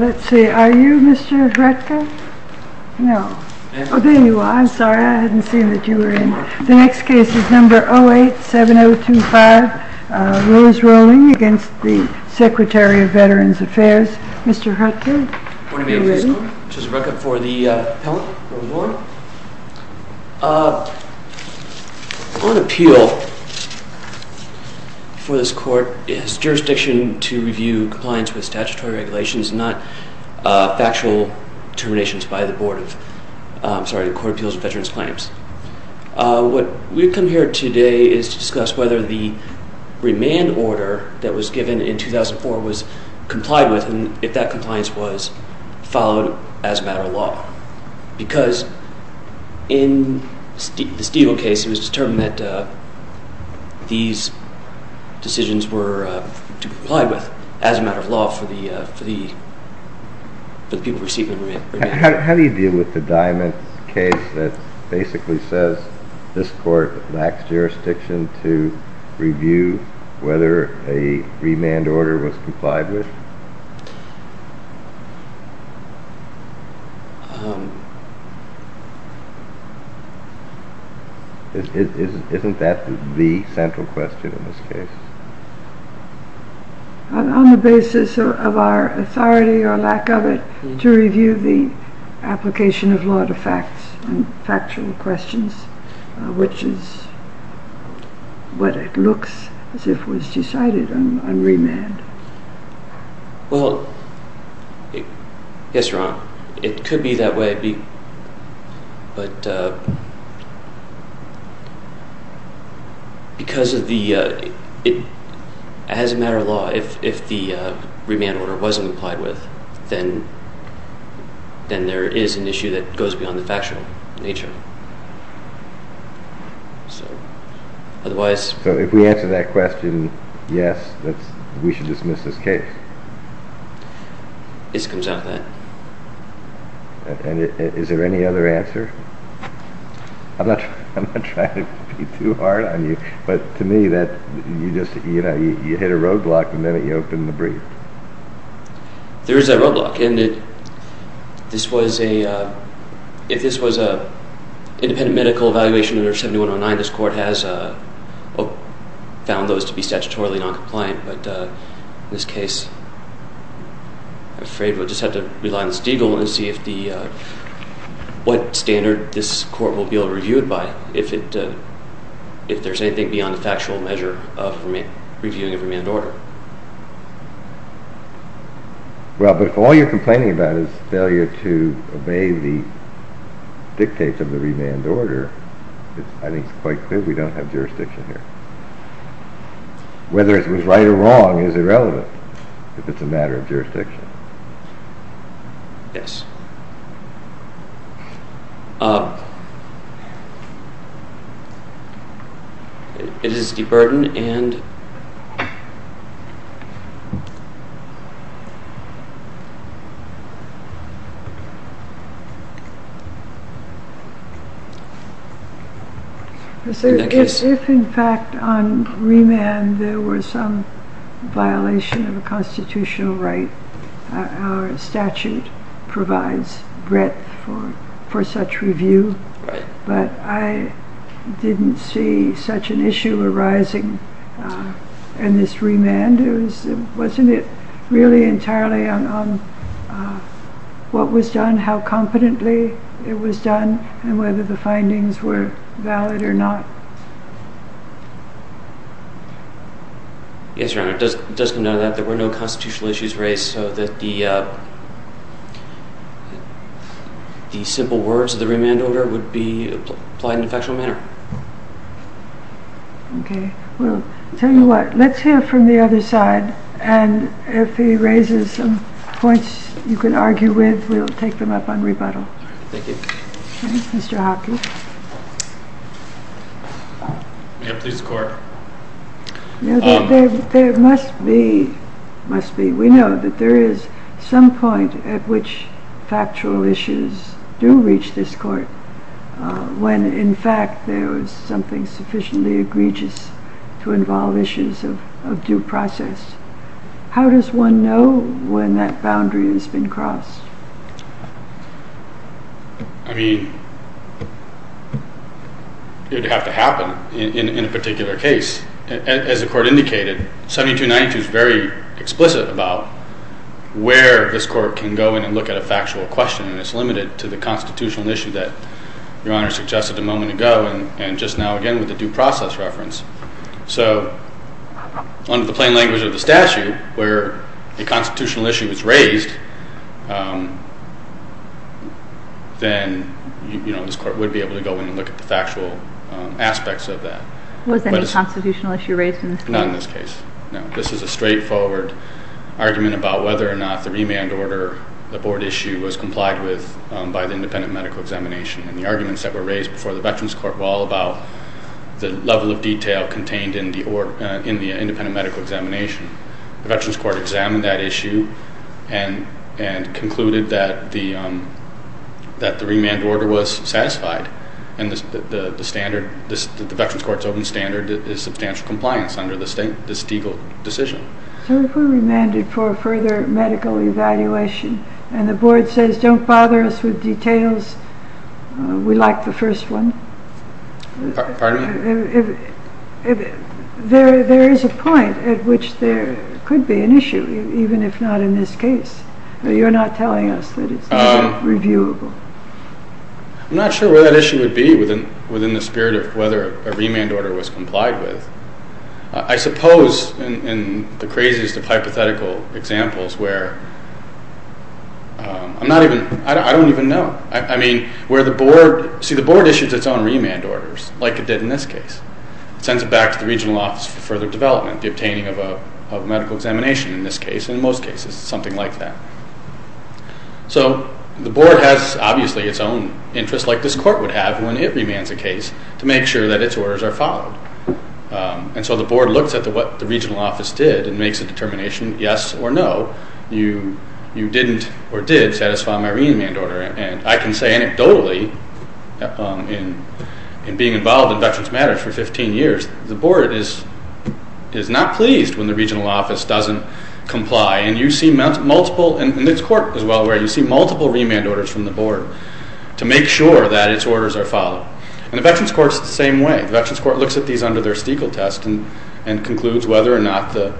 Let's see, are you Mr. Hretka? No. Oh, there you are. I'm sorry, I hadn't seen that you were in. The next case is number 087025, Rose Rowling against the Secretary of Veterans Affairs. Mr. Hretka, are you ready? On appeal for this court is jurisdiction to review compliance with statutory regulations not factual determinations by the Board of, I'm sorry, the Court of Appeals of Veterans Claims. What we've come here today is to discuss whether the remand order that was given in as a matter of law, because in the Steedle case it was determined that these decisions were to comply with as a matter of law for the people receiving the remand. How do you deal with the Diamond case that basically says this court lacks jurisdiction to review whether a remand order was complied with? Isn't that the central question in this case? On the basis of our authority or lack of it, to review the application of law to facts and factual questions, which is what it looks as if was decided on remand. Well, yes, Your Honor, it could be that way, but because of the, as a matter of law, if the remand order wasn't complied with, then there is an issue that goes beyond the factual nature. So if we answer that question, yes, we should dismiss this case. Yes, it comes down to that. Is there any other answer? I'm not trying to be too hard on you, but to me, you hit a roadblock the minute you opened the brief. There is a roadblock, and if this was an independent medical evaluation under 7109, this court has found those to be statutorily non-compliant, but in this case, I'm afraid we'll just have to rely on the Steedle and see what standard this court will be able to review it by if there's anything beyond the factual measure of reviewing a remand order. Well, but if all you're complaining about is failure to obey the dictates of the remand order, I think it's quite clear we don't have jurisdiction here. Whether it was right or wrong is irrelevant if it's a matter of jurisdiction. Yes. It is deburdened and... If in fact on remand there were some violation of a constitutional right, our statute provides breadth for such review, but I didn't see such an issue arising in this remand. Wasn't it really entirely on what was done, how competently it was done, and whether the Yes, Your Honor, it does come down to that. There were no constitutional issues raised so that the simple words of the remand order would be applied in a factual manner. Okay. Well, tell you what, let's hear from the other side, and if he raises some points you can argue with, we'll take them up on rebuttal. Thank you. Okay, Mr. Hockey. May I please court? There must be, we know that there is some point at which factual issues do reach this court when in fact there is something sufficiently egregious to involve issues of due process. How does one know when that boundary has been crossed? I mean, it would have to happen in a particular case. As the court indicated, 7292 is very explicit about where this court can go in and look at a factual question, and it's limited to the constitutional issue that Your Honor suggested a moment ago, and just now again with the due process reference. So, under the plain language of the statute, where a constitutional issue is raised, then this court would be able to go in and look at the factual aspects of that. Was there any constitutional issue raised in this case? Not in this case, no. This is a straightforward argument about whether or not the remand order, the board issue, was complied with by the independent medical examination, and the arguments that were raised before the Veterans Court were all about the level of detail contained in the independent medical examination. The Veterans Court examined that issue and concluded that the remand order was satisfied, and the Veterans Court's open standard is substantial compliance under the Stegall decision. So if we're remanded for further medical evaluation, and the board says, don't bother us with details, we like the first one. Pardon me? There is a point at which there could be an issue, even if not in this case. You're not telling us that it's not reviewable. I'm not sure where that issue would be within the spirit of whether a remand order was complied with. I suppose in the craziest of hypothetical examples where I'm not even, I don't even know. I mean, where the board, see the board issues its own remand orders, like it did in this case. It sends it back to the regional office for further development, the obtaining of a medical examination in this case, and in most cases, something like that. So the board has, obviously, its own interests like this court would have when it remands a case to make sure that its orders are followed. And so the board looks at what the regional office did and makes a determination, yes or no, you didn't or did satisfy my remand order. And I can say anecdotally, in being involved in Veterans Matters for 15 years, the board is not pleased when the regional office doesn't comply. And you see multiple, and this court as well, where you see multiple remand orders from the board to make sure that its orders are followed. And the Veterans Court is the same way. The Veterans Court looks at these under their Stiegel test and concludes whether or not the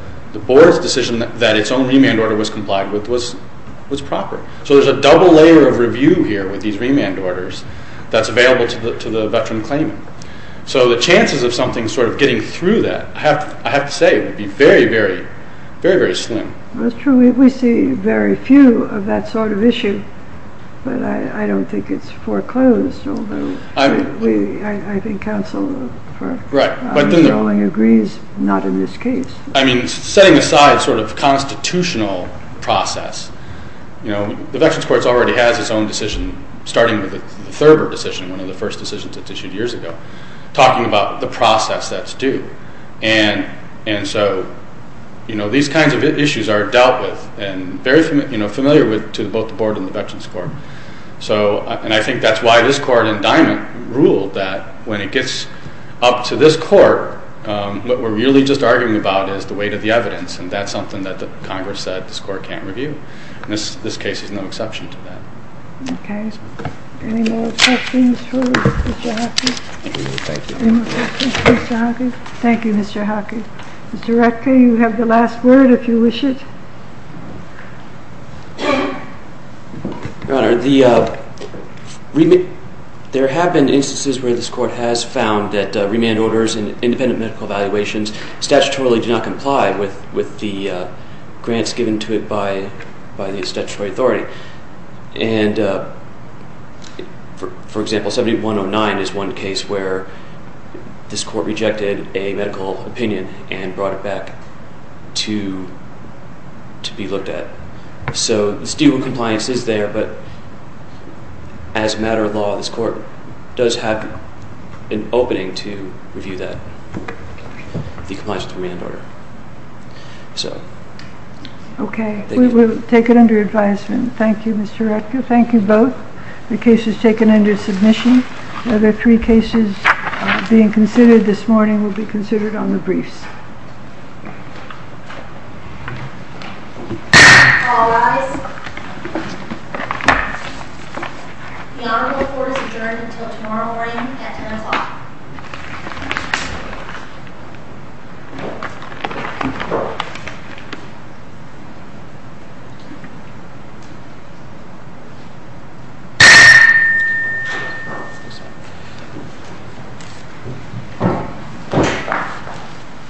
board's decision that its own remand order was complied with was proper. So there's a double layer of review here with these remand orders that's available to the veteran claimant. So the chances of something sort of getting through that, I have to say, would be very, very, very, very slim. That's true. We see very few of that sort of issue, but I don't think it's foreclosed, although I think counsel for unenrolling agrees not in this case. I mean, setting aside sort of constitutional process, the Veterans Court already has its own decision starting with the Thurber decision, one of the first decisions that's issued years ago, talking about the process that's due. And so these kinds of issues are dealt with and very familiar to both the board and the Veterans Court. And I think that's why this court in Diamond ruled that when it gets up to this court, what we're really just arguing about is the weight of the evidence, and that's something that Congress said this court can't review. This case is no exception to that. Okay. Any more questions for Mr. Jackson? Thank you. Any more questions for Mr. Hockey? Thank you, Mr. Hockey. Mr. Ratka, you have the last word, if you wish it. Your Honor, there have been instances where this court has found that remand orders and independent medical evaluations statutorily do not comply with the grants given to it by the statutory authority. And, for example, 7109 is one case where this court rejected a medical opinion and brought it back to be looked at. So the student compliance is there, but as a matter of law, this court does have an opening to review that, the compliance with the remand order. Okay. We will take it under advisement. Thank you, Mr. Ratka. Thank you both. The case is taken under submission. The other three cases being considered this morning will be considered on the briefs. All rise. The honorable court is adjourned until tomorrow morning at 10 o'clock. Thank you.